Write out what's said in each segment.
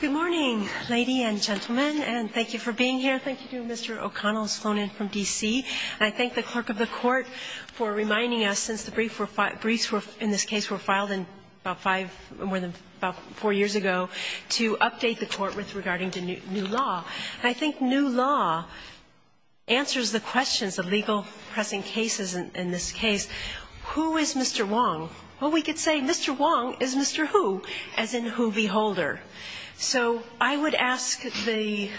Good morning, ladies and gentlemen, and thank you for being here. Thank you to Mr. O'Connell, who has flown in from D.C. And I thank the clerk of the court for reminding us, since the briefs were in this case were filed in about five, more than about four years ago, to update the court with regarding to new law. And I think new law answers the questions of legal pressing cases in this case. Who is Mr. Wang? Well, we could say Mr. Wang is Mr. Hu, as in Hu v. Holder. So I would ask the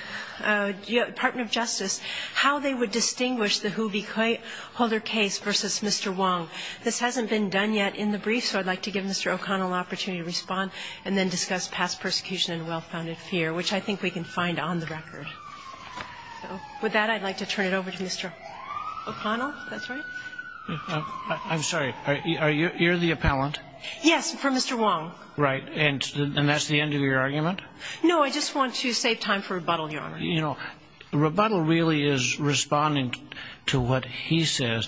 Department of Justice how they would distinguish the Hu v. Holder case versus Mr. Wang. This hasn't been done yet in the brief, so I'd like to give Mr. O'Connell an opportunity to respond and then discuss past persecution and well-founded fear, which I think we can find on the record. So, with that, I'd like to turn it over to Mr. O'Connell, if that's right. I'm sorry. Are you the appellant? Yes, for Mr. Wang. Right. And that's the end of your argument? No, I just want to save time for rebuttal, Your Honor. You know, rebuttal really is responding to what he says.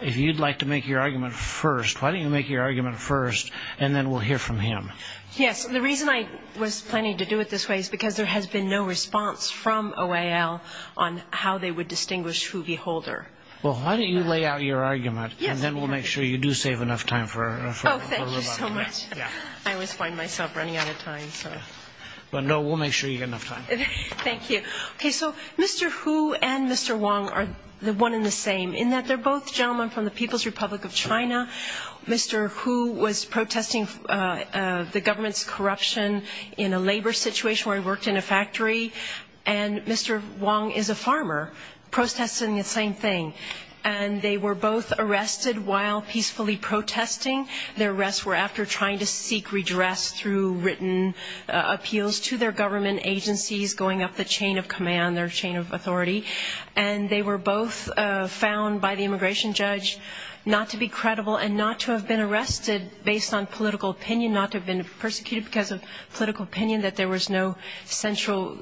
If you'd like to make your argument first, why don't you make your argument first, and then we'll hear from him. Yes. The reason I was planning to do it this way is because there has been no response from OAL on how they would distinguish Hu v. Holder. Well, why don't you lay out your argument, and then we'll make sure you do save enough time for rebuttal. Oh, thank you so much. I always find myself running out of time, so. Well, no, we'll make sure you get enough time. Thank you. Okay, so Mr. Hu and Mr. Wang are one and the same in that they're both gentlemen from the People's Republic of China. Mr. Hu was protesting the government's corruption in a labor situation where he worked in a factory. And Mr. Wang is a farmer protesting the same thing. And they were both arrested while peacefully protesting. Their arrests were after trying to seek redress through written appeals to their government agencies, going up the chain of command, their chain of authority. And they were both found by the immigration judge not to be credible and not to have been arrested based on political opinion, not to have been persecuted because of political opinion, that there was no central,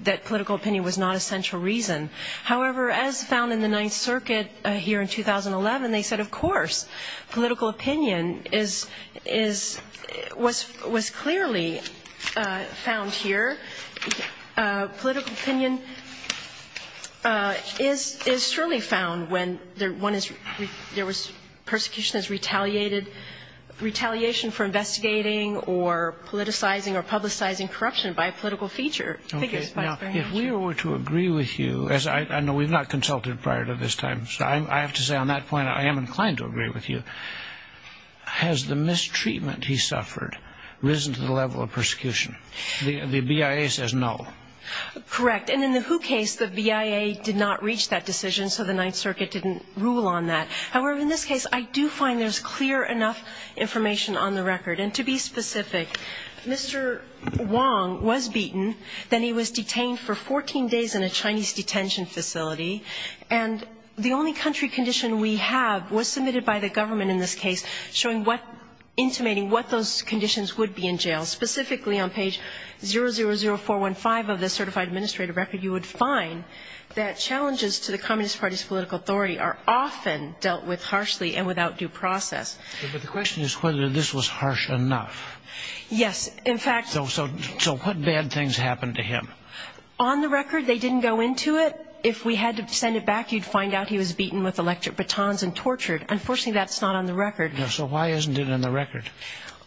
that political opinion was not a central reason. However, as found in the Ninth Circuit here in 2011, they said, of course. Political opinion is, was clearly found here. Political opinion is surely found when there was persecution as retaliation for investigating or politicizing or publicizing corruption by a political figure. Okay, now if we were to agree with you, as I know we've not consulted prior to this time, so I have to say on that point I am inclined to agree with you. Has the mistreatment he suffered risen to the level of persecution? The BIA says no. Correct, and in the Hu case, the BIA did not reach that decision, so the Ninth Circuit didn't rule on that. However, in this case, I do find there's clear enough information on the record. And to be specific, Mr. Wong was beaten. Then he was detained for 14 days in a Chinese detention facility. And the only country condition we have was submitted by the government in this case, showing what, intimating what those conditions would be in jail. Specifically on page 000415 of the certified administrative record, you would find that challenges to the Communist Party's political authority are often dealt with harshly and without due process. But the question is whether this was harsh enough. Yes, in fact. So what bad things happened to him? On the record, they didn't go into it. If we had to send it back, you'd find out he was beaten with electric batons and tortured. Unfortunately, that's not on the record. So why isn't it in the record?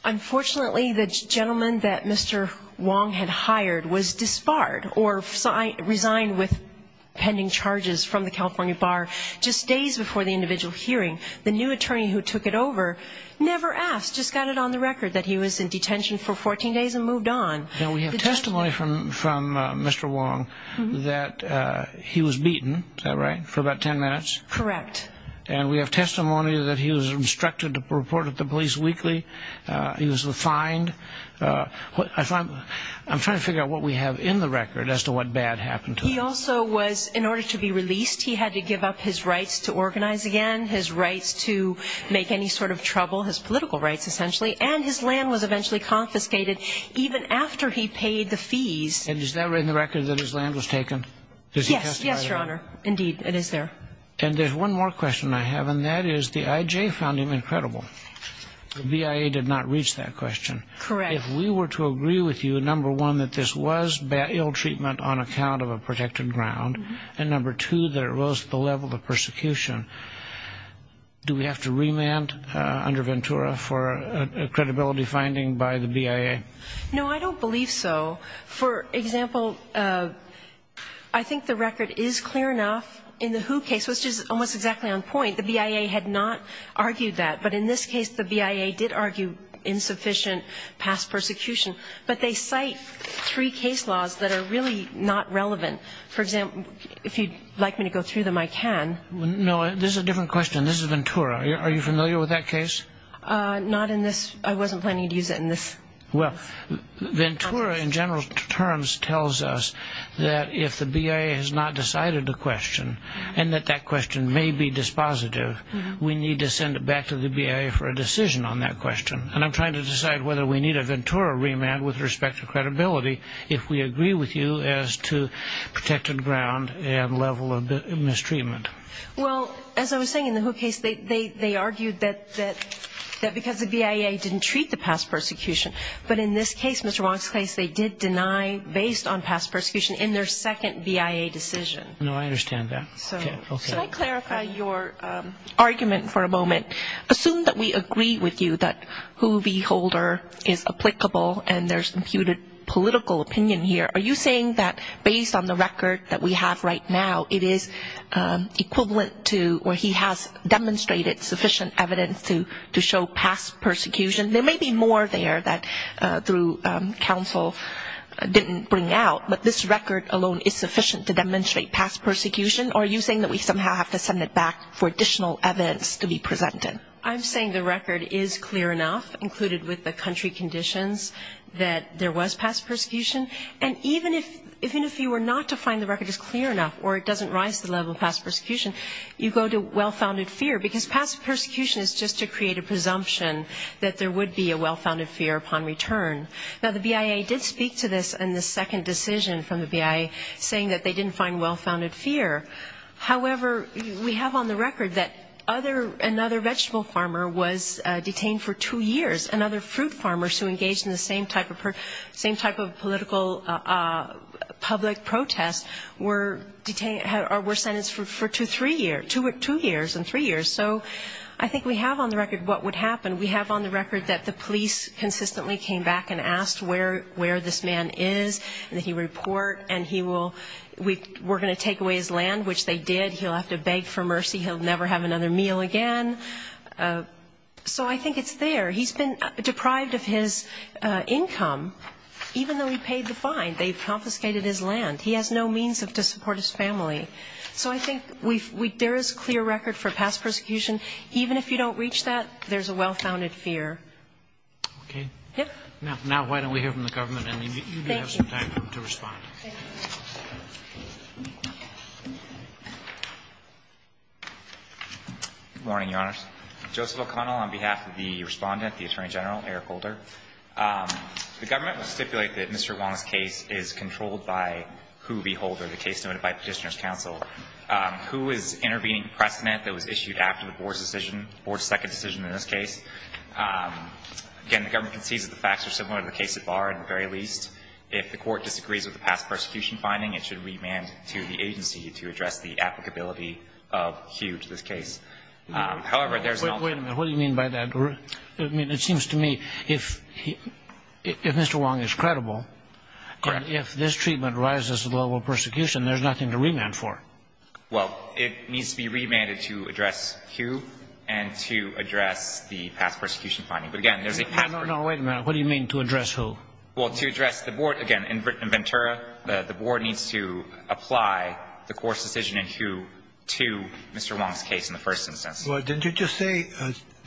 Unfortunately, the gentleman that Mr. Wong had hired was disbarred or resigned with pending charges from the California bar just days before the individual hearing. The new attorney who took it over never asked, just got it on the record that he was in detention for 14 days and moved on. Now, we have testimony from Mr. Wong that he was beaten, is that right, for about 10 minutes? Correct. And we have testimony that he was instructed to report it to police weekly. He was fined. I'm trying to figure out what we have in the record as to what bad happened to him. He also was, in order to be released, he had to give up his rights to organize again, his rights to make any sort of trouble, his political rights, essentially. And his land was eventually confiscated even after he paid the fees. And is that in the record that his land was taken? Yes, yes, Your Honor. Indeed, it is there. And there's one more question I have, and that is the IJ found him incredible. The BIA did not reach that question. Correct. If we were to agree with you, number one, that this was ill treatment on account of a protected ground, and number two, that it rose to the level of persecution, do we have to remand under Ventura for a credibility finding by the BIA? No, I don't believe so. For example, I think the record is clear enough in the Who case, which is almost exactly on point. The BIA had not argued that. But in this case, the BIA did argue insufficient past persecution. But they cite three case laws that are really not relevant. For example, if you'd like me to go through them, I can. No, this is a different question. This is Ventura. Are you familiar with that case? Not in this. I wasn't planning to use it in this. Well, Ventura, in general terms, tells us that if the BIA has not decided the question, and that that question may be dispositive, we need to send it back to the BIA for a decision on that question. And I'm trying to decide whether we need a Ventura remand with respect to credibility if we agree with you as to protected ground and level of mistreatment. Well, as I was saying, in the Who case, they argued that because the BIA didn't treat the past persecution. But in this case, Mr. Wong's case, they did deny based on past persecution in their second BIA decision. No, I understand that. So, can I clarify your argument for a moment? Assume that we agree with you that Who v. Holder is applicable and there's imputed political opinion here. Are you saying that based on the record that we have right now, it is equivalent to where he has demonstrated sufficient evidence to show past persecution? There may be more there that through counsel didn't bring out, but this record alone is sufficient to demonstrate past persecution? Or are you saying that we somehow have to send it back for additional evidence to be presented? I'm saying the record is clear enough, included with the country conditions, that there was past persecution. And even if you were not to find the record is clear enough, or it doesn't rise to the level of past persecution, you go to well-founded fear, because past persecution is just to create a presumption that there would be a well-founded fear upon return. Now, the BIA did speak to this in the second decision from the BIA, saying that they didn't find well-founded fear. However, we have on the record that another vegetable farmer was detained for two years, and other fruit farmers who engaged in the same type of political public protest were sentenced for two years and three years. So I think we have on the record what would happen. We have on the record that the police consistently came back and asked where this man is, and that he report, and we're going to take away his land, which they did. He'll have to beg for mercy. He'll never have another meal again. So I think it's there. He's been deprived of his income, even though he paid the fine. They've confiscated his land. He has no means to support his family. So I think there is clear record for past persecution. Even if you don't reach that, there's a well-founded fear. Okay. Yeah. Now, why don't we hear from the government, and you may have some time to respond. Thank you. Good morning, Your Honors. Joseph O'Connell on behalf of the Respondent, the Attorney General, Eric Holder. The government will stipulate that Mr. Wong's case is controlled by Whoeve Holder, the case noted by Petitioner's Counsel. Whoe is intervening precedent that was issued after the Board's decision, the Board's second decision in this case. Again, the government concedes that the facts are similar to the case at Barr, at the very least. If the court disagrees with the past persecution finding, it should remand to the agency to address the applicability of Whoe to this case. However, there's an alternative. Wait a minute. What do you mean by that? I mean, it seems to me, if Mr. Wong is credible, and if this treatment rises to the level of persecution, there's nothing to remand for. Well, it needs to be remanded to address Whoe and to address the past persecution finding. But again, there's a past... No, no, no. Wait a minute. What do you mean, to address Whoe? Well, to address the Board, again, in Ventura, the Board needs to apply the court's decision in Whoe to Mr. Wong's case in the first instance. Well, didn't you just say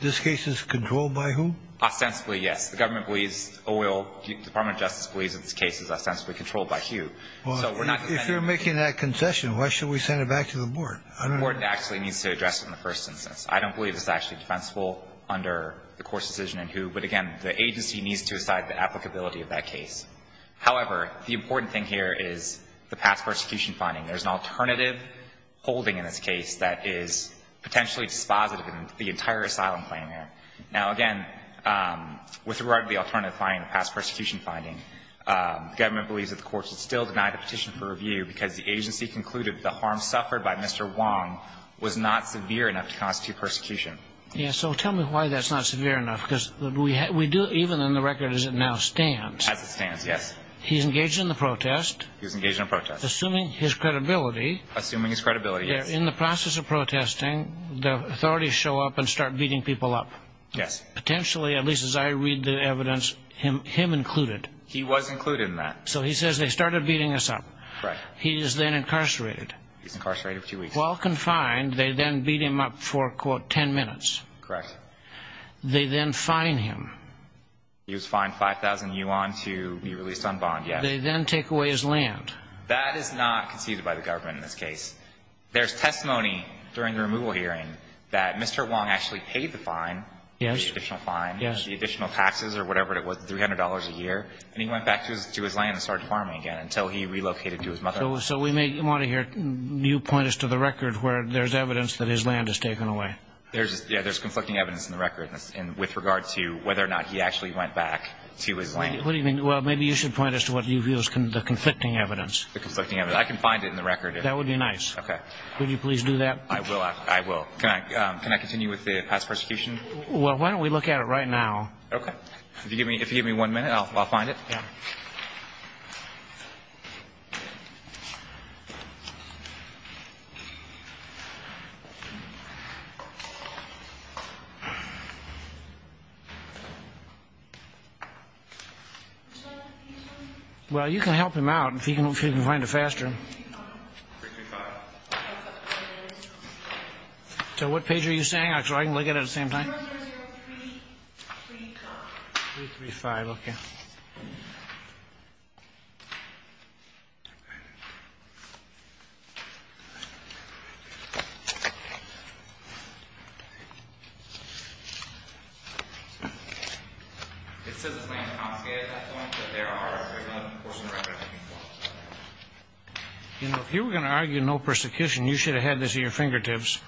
this case is controlled by Whoe? Ostensibly, yes. The government believes, the Department of Justice believes that this case is ostensibly controlled by Whoe. So we're not going to... If you're making that concession, why should we send it back to the Board? The Board actually needs to address it in the first instance. I don't believe it's actually defensible under the court's decision in Whoe. But again, the agency needs to decide the applicability of that case. However, the important thing here is the past persecution finding. There's an alternative holding in this case that is potentially dispositive in the entire asylum claim here. Now, again, with regard to the alternative finding, the past persecution finding, the government believes that the court should still deny the petition for review because the agency concluded the harm suffered by Mr. Wong was not severe enough to constitute persecution. Yes, so tell me why that's not severe enough. Because we do, even in the record as it now stands... As it stands, yes. He's engaged in the protest. He's engaged in a protest. Assuming his credibility... Assuming his credibility, yes. In the process of protesting, the authorities show up and start beating people up. Yes. Potentially, at least as I read the evidence, him included. He was included in that. So he says they started beating us up. Right. He is then incarcerated. He's incarcerated for two weeks. While confined, they then beat him up for, quote, 10 minutes. Correct. They then fine him. He was fined 5,000 yuan to be released on bond, yes. They then take away his land. That is not conceded by the government in this case. There's testimony during the removal hearing that Mr. Wong actually paid the fine, the additional fine, the additional taxes or whatever it was, $300 a year. And he went back to his land and started farming again until he relocated to his mother. So we may want to hear you point us to the record where there's evidence that his land is taken away. There's conflicting evidence in the record with regard to whether or not he actually went back to his land. What do you mean? Well, maybe you should point us to what you view as the conflicting evidence. The conflicting evidence. I can find it in the record. That would be nice. Okay. Would you please do that? I will. I will. Can I continue with the past prosecution? Well, why don't we look at it right now? Okay. If you give me one minute, I'll find it. Yeah. Well, you can help him out if you can find it faster. So what page are you saying, so I can look at it at the same time? 335, okay. It says the claim is confiscated at that point, but there are 11, of course, in the record I can follow up with that. You know, if you were going to argue no persecution, you should have had this at your fingertips.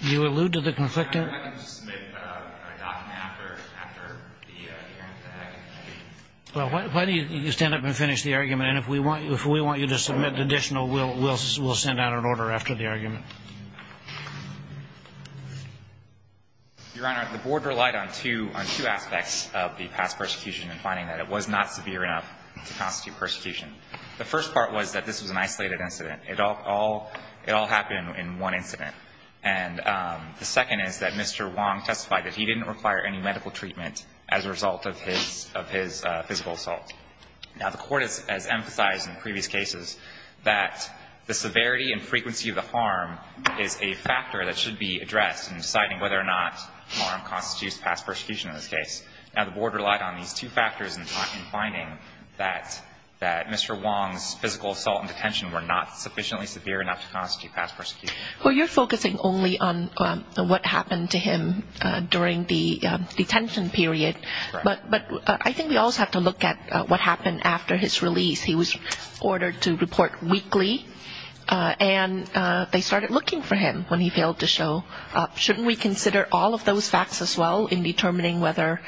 Do you allude to the conflicting? Your Honor, I can just submit a document after the hearing today, I think. Well, why don't you stand up and finish the argument, and if we want you to submit additional, we'll send out an order after the argument. Your Honor, the Board relied on two aspects of the past persecution in finding that it was not severe enough to constitute persecution. The first part was that this was an isolated incident. It all happened in one incident. And the second is that Mr. Wong testified that he didn't require any medical treatment as a result of his physical assault. Now, the Court has emphasized in previous cases that the severity and frequency of the harm was not severe enough to constitute persecution. Now, the Board relied on these two factors in finding that Mr. Wong's physical assault and detention were not sufficiently severe enough to constitute past persecution. Well, you're focusing only on what happened to him during the detention period, but I think we also have to look at what happened after his release. He was ordered to report weekly, and they started looking for him when he failed to show up. Shouldn't we consider all of those facts as well in determining whether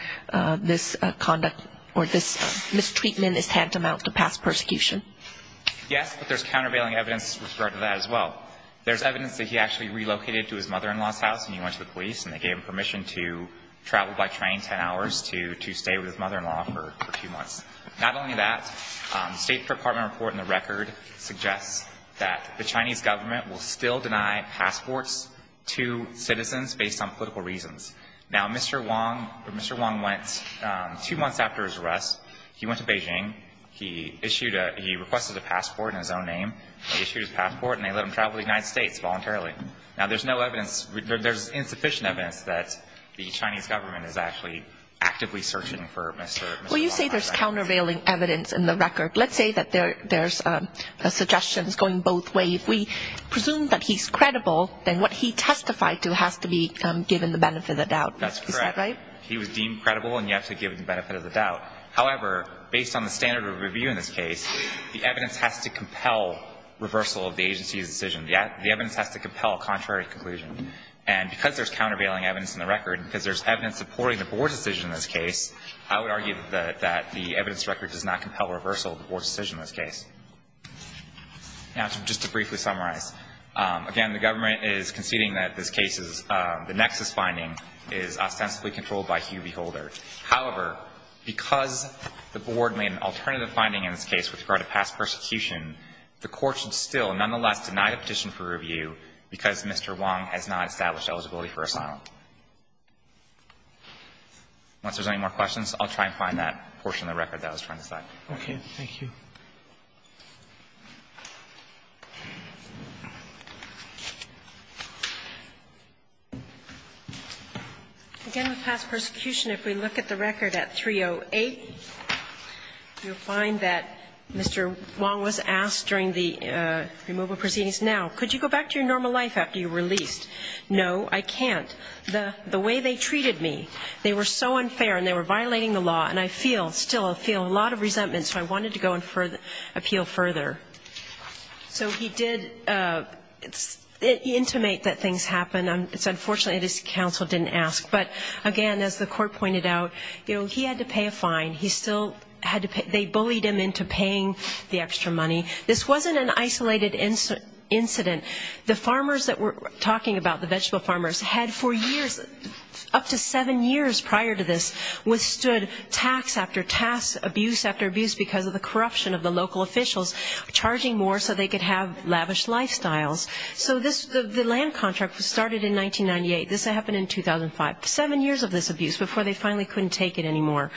this conduct or this mistreatment is tantamount to past persecution? Yes, but there's countervailing evidence as well. There's evidence that he actually relocated to his mother-in-law's house, and he went to the police, and they gave him permission to travel by train ten hours to stay with his mother-in-law for two months. Not only that, the State Department report in the record suggests that the Chinese government will still deny passports to citizens based on political reasons. Now, Mr. Wong, Mr. Wong went two months after his arrest, he went to Beijing, he issued a he requested a passport in his own name, he issued his passport, and they let him travel to the United States voluntarily. Now, there's no evidence, there's insufficient evidence that the Chinese government is actually actively searching for Mr. Wong. Well, you say there's countervailing evidence in the record. Let's say that there's suggestions going both ways. If we presume that he's credible, then what he testified to has to be given the benefit of the doubt. That's correct. Is that right? He was deemed credible, and you have to give him the benefit of the doubt. However, based on the standard of review in this case, the evidence has to compel reversal of the agency's decision. The evidence has to compel a contrary conclusion. And because there's countervailing evidence in the record, because there's evidence supporting the board's decision in this case, I would argue that the evidence record does not compel reversal of the board's decision in this case. Now, just to briefly summarize, again, the government is conceding that this case is, the nexus finding is ostensibly controlled by Hugh Beholder. However, because the board made an alternative finding in this case with regard to past persecution, the court should still nonetheless deny the petition for review because Mr. Wong has not established eligibility for asylum. Once there's any more questions, I'll try and find that portion of the record that I was trying to cite. Okay. Thank you. Again, with past persecution, if we look at the record at 308, you'll find that Mr. Wong was asked to testify. He was asked during the removal proceedings, now, could you go back to your normal life after you were released? No, I can't. The way they treated me, they were so unfair, and they were violating the law, and I feel, still feel a lot of resentment, so I wanted to go and appeal further. So he did intimate that things happened. It's unfortunate his counsel didn't ask, but again, as the court pointed out, he had to pay a fine. He still had to pay, they bullied him into paying the extra money. This wasn't an isolated incident. The farmers that we're talking about, the vegetable farmers, had for years, up to seven years prior to this, withstood tax after tax, abuse after abuse because of the corruption of the local officials, charging more so they could have lavish lifestyles. So this, the land contract was started in 1998. This happened in 2005. Seven years of this abuse before they finally couldn't take it anymore.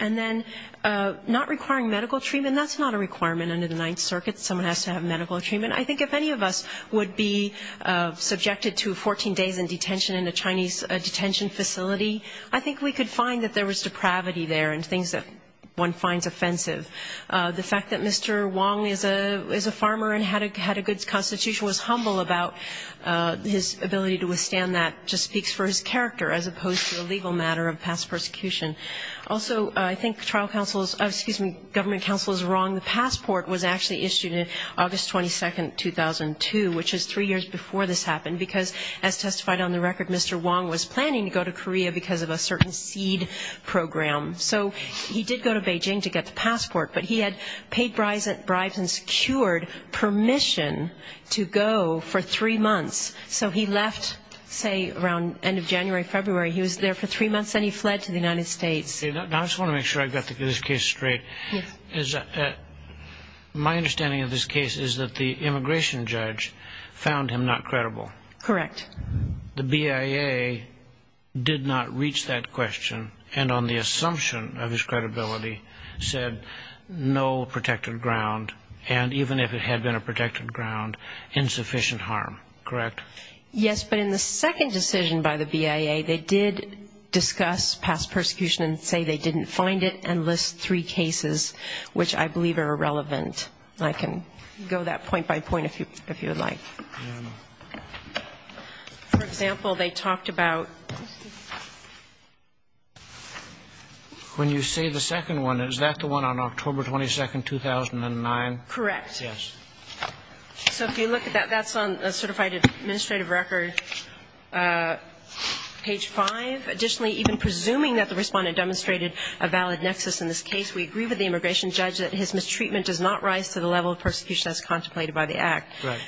And then, not requiring medical treatment, that's not a requirement under the Ninth Circuit. Someone has to have medical treatment. I think if any of us would be subjected to 14 days in detention in a Chinese detention facility, I think we could find that there was depravity there and things that one finds offensive. The fact that Mr. Wong is a farmer and had a good constitution, was humble about his ability to withstand that, just speaks for his character, as opposed to a legal matter of past persecution. Also, I think trial counsels, excuse me, government counsel is wrong. The passport was actually issued on August 22nd, 2002, which is three years before this happened, because as testified on the record, Mr. Wong was planning to go to Korea because of a certain seed program. So he did go to Beijing to get the passport, but he had paid bribes and secured permission to go for three months. So he left, say, around the end of January, February. He was there for three months, then he fled to the United States. Now, I just want to make sure I've got this case straight. Yes. My understanding of this case is that the immigration judge found him not credible. Correct. The BIA did not reach that question, and on the assumption of his credibility, said no protected ground, and even if it had been a protected ground, insufficient harm. Correct? Yes, but in the second decision by the BIA, they did discuss past persecution and say they didn't find it, and list three cases which I believe are irrelevant. I can go that point by point if you would like. For example, they talked about... When you say the second one, is that the one on October 22, 2009? Correct. Yes. So if you look at that, that's on a certified administrative record, page five. Additionally, even presuming that the respondent demonstrated a valid nexus in this case, we agree with the immigration judge that his mistreatment does not rise to the level of persecution as contemplated by the act. Right.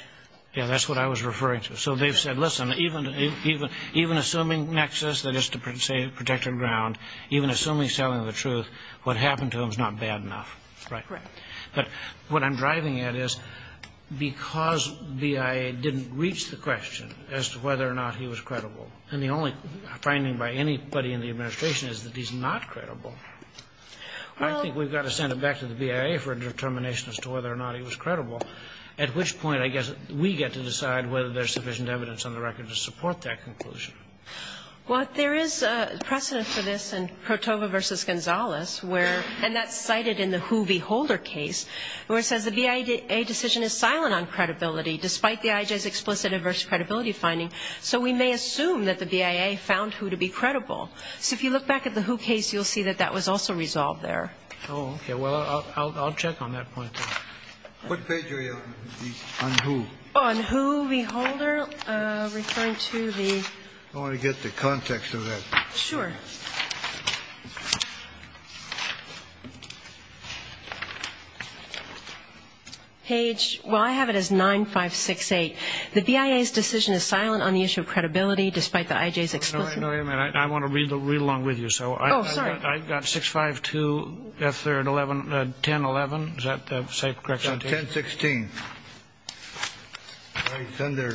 Yeah, that's what I was referring to. So they've said, listen, even assuming nexus, that is to say protected ground, even assuming selling the truth, what happened to him is not bad enough. Correct. But what I'm driving at is because BIA didn't reach the question as to whether or not he was credible, and the only finding by anybody in the administration is that he's not credible, I think we've got to send it back to the BIA for a determination as to whether or not he was credible, at which point I guess we get to decide whether there's sufficient evidence on the record to support that conclusion. Well, there is precedent for this in Cotova v. Gonzalez where, and that's cited in the Who v. Holder case, where it says the BIA decision is silent on credibility, despite the IJ's explicit adverse credibility finding. So we may assume that the BIA found Who to be credible. So if you look back at the Who case, you'll see that that was also resolved there. Oh, okay. Well, I'll check on that point, then. What page are you on, on Who? On Who v. Holder, referring to the... I want to get the context of that. Sure. Page, well, I have it as 9568. The BIA's decision is silent on the issue of credibility, despite the IJ's explicit... No, no, no, wait a minute. I want to read along with you. Oh, sorry. I've got 652, F3rd, 1011. Is that the correct... 1016. All right, it's under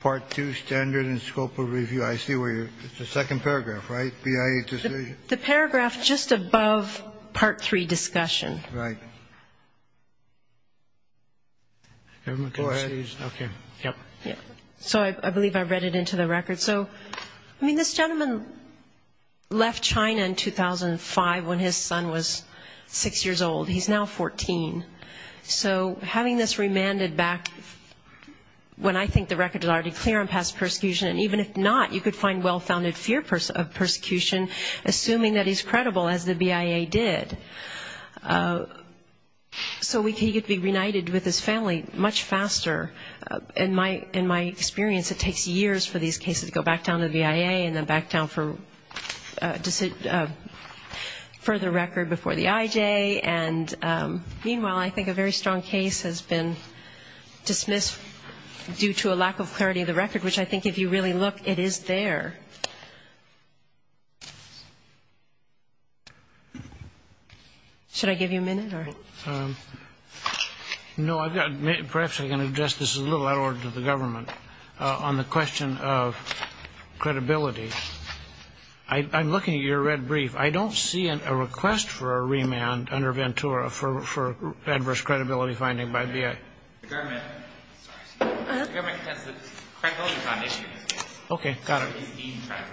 Part 2, Standard and Scope of Review. I see where you're... It's the second paragraph, right? BIA decision. The paragraph just above Part 3, Discussion. Right. Go ahead. Okay, yep. Yep. So I believe I read it into the record. So, I mean, this gentleman left China in 2005 when his son was six years old. He's now 14. So having this remanded back, when I think the record is already clear on past persecution, and even if not, you could find well-founded fear of persecution, assuming that he's credible, as the BIA did. So he could be reunited with his family much faster. In my experience, it takes years for these cases to go back down to the BIA and then back down for a further record before the IJ. And meanwhile, I think a very strong case has been dismissed due to a lack of clarity of the record, which I think, if you really look, it is there. Should I give you a minute or...? No, I've got... Perhaps I can address this a little out of order to the government. On the question of credibility, I'm looking at your red brief. I don't see a request for a remand under Ventura for adverse credibility finding by BIA. The government has the credibility foundation. Okay, got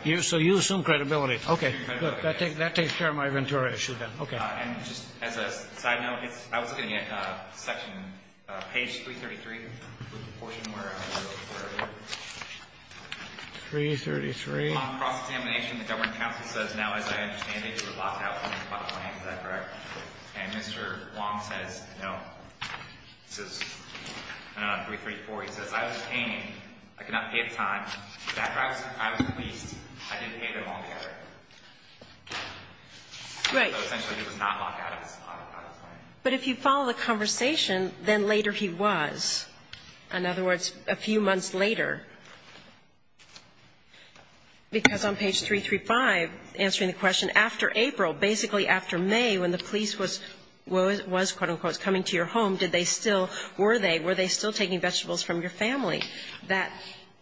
it. So you assume credibility. Okay, good. That takes care of my Ventura issue, then. Okay. And just as a side note, I was looking at section, page 333, the portion where I was looking for... 333. ...cross-examination. The government counsel says, now, as I understand it, you were locked out when you filed a claim. Is that correct? And Mr. Wong says, no, this is, I don't know, 334. He says, I was paying. I could not pay it in time. But after I was released, I did pay them all together. Right. So essentially, he was not locked out of his claim. But if you follow the conversation, then later he was. In other words, a few months later. Because on page 335, answering the question, after April, basically after May, when the police was, quote, unquote, coming to your home, did they still, were they, were they still taking vegetables from your family that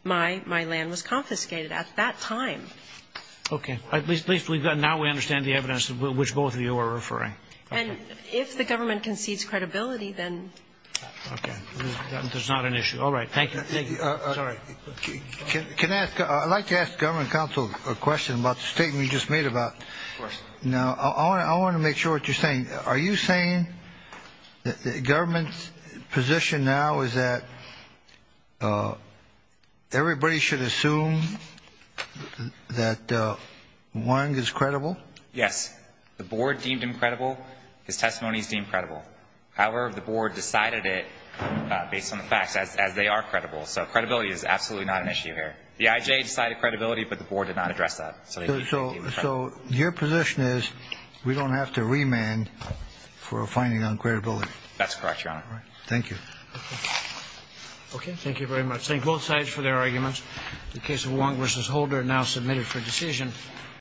my land was confiscated at that time? Okay. At least, at least we've got, now we understand the evidence which both of you are referring. And if the government concedes credibility, then... Okay. There's not an issue. All right. Thank you. Thank you. Sorry. Can I ask, I'd like to ask the government counsel a question about the statement you just made about... Of course. Now, I want to make sure what you're saying. Are you saying that the government's position now is that everybody should assume that one is credible? Yes. The board deemed him credible. His testimony is deemed credible. However, the board decided it based on the facts, as they are credible. So credibility is absolutely not an issue here. The IJ decided credibility, but the board did not address that. So your position is we don't have to remand for a finding on credibility? That's correct, Your Honor. All right. Thank you. Okay. Thank you very much. Thank both sides for their arguments. The case of Wong v. Holder now submitted for decision.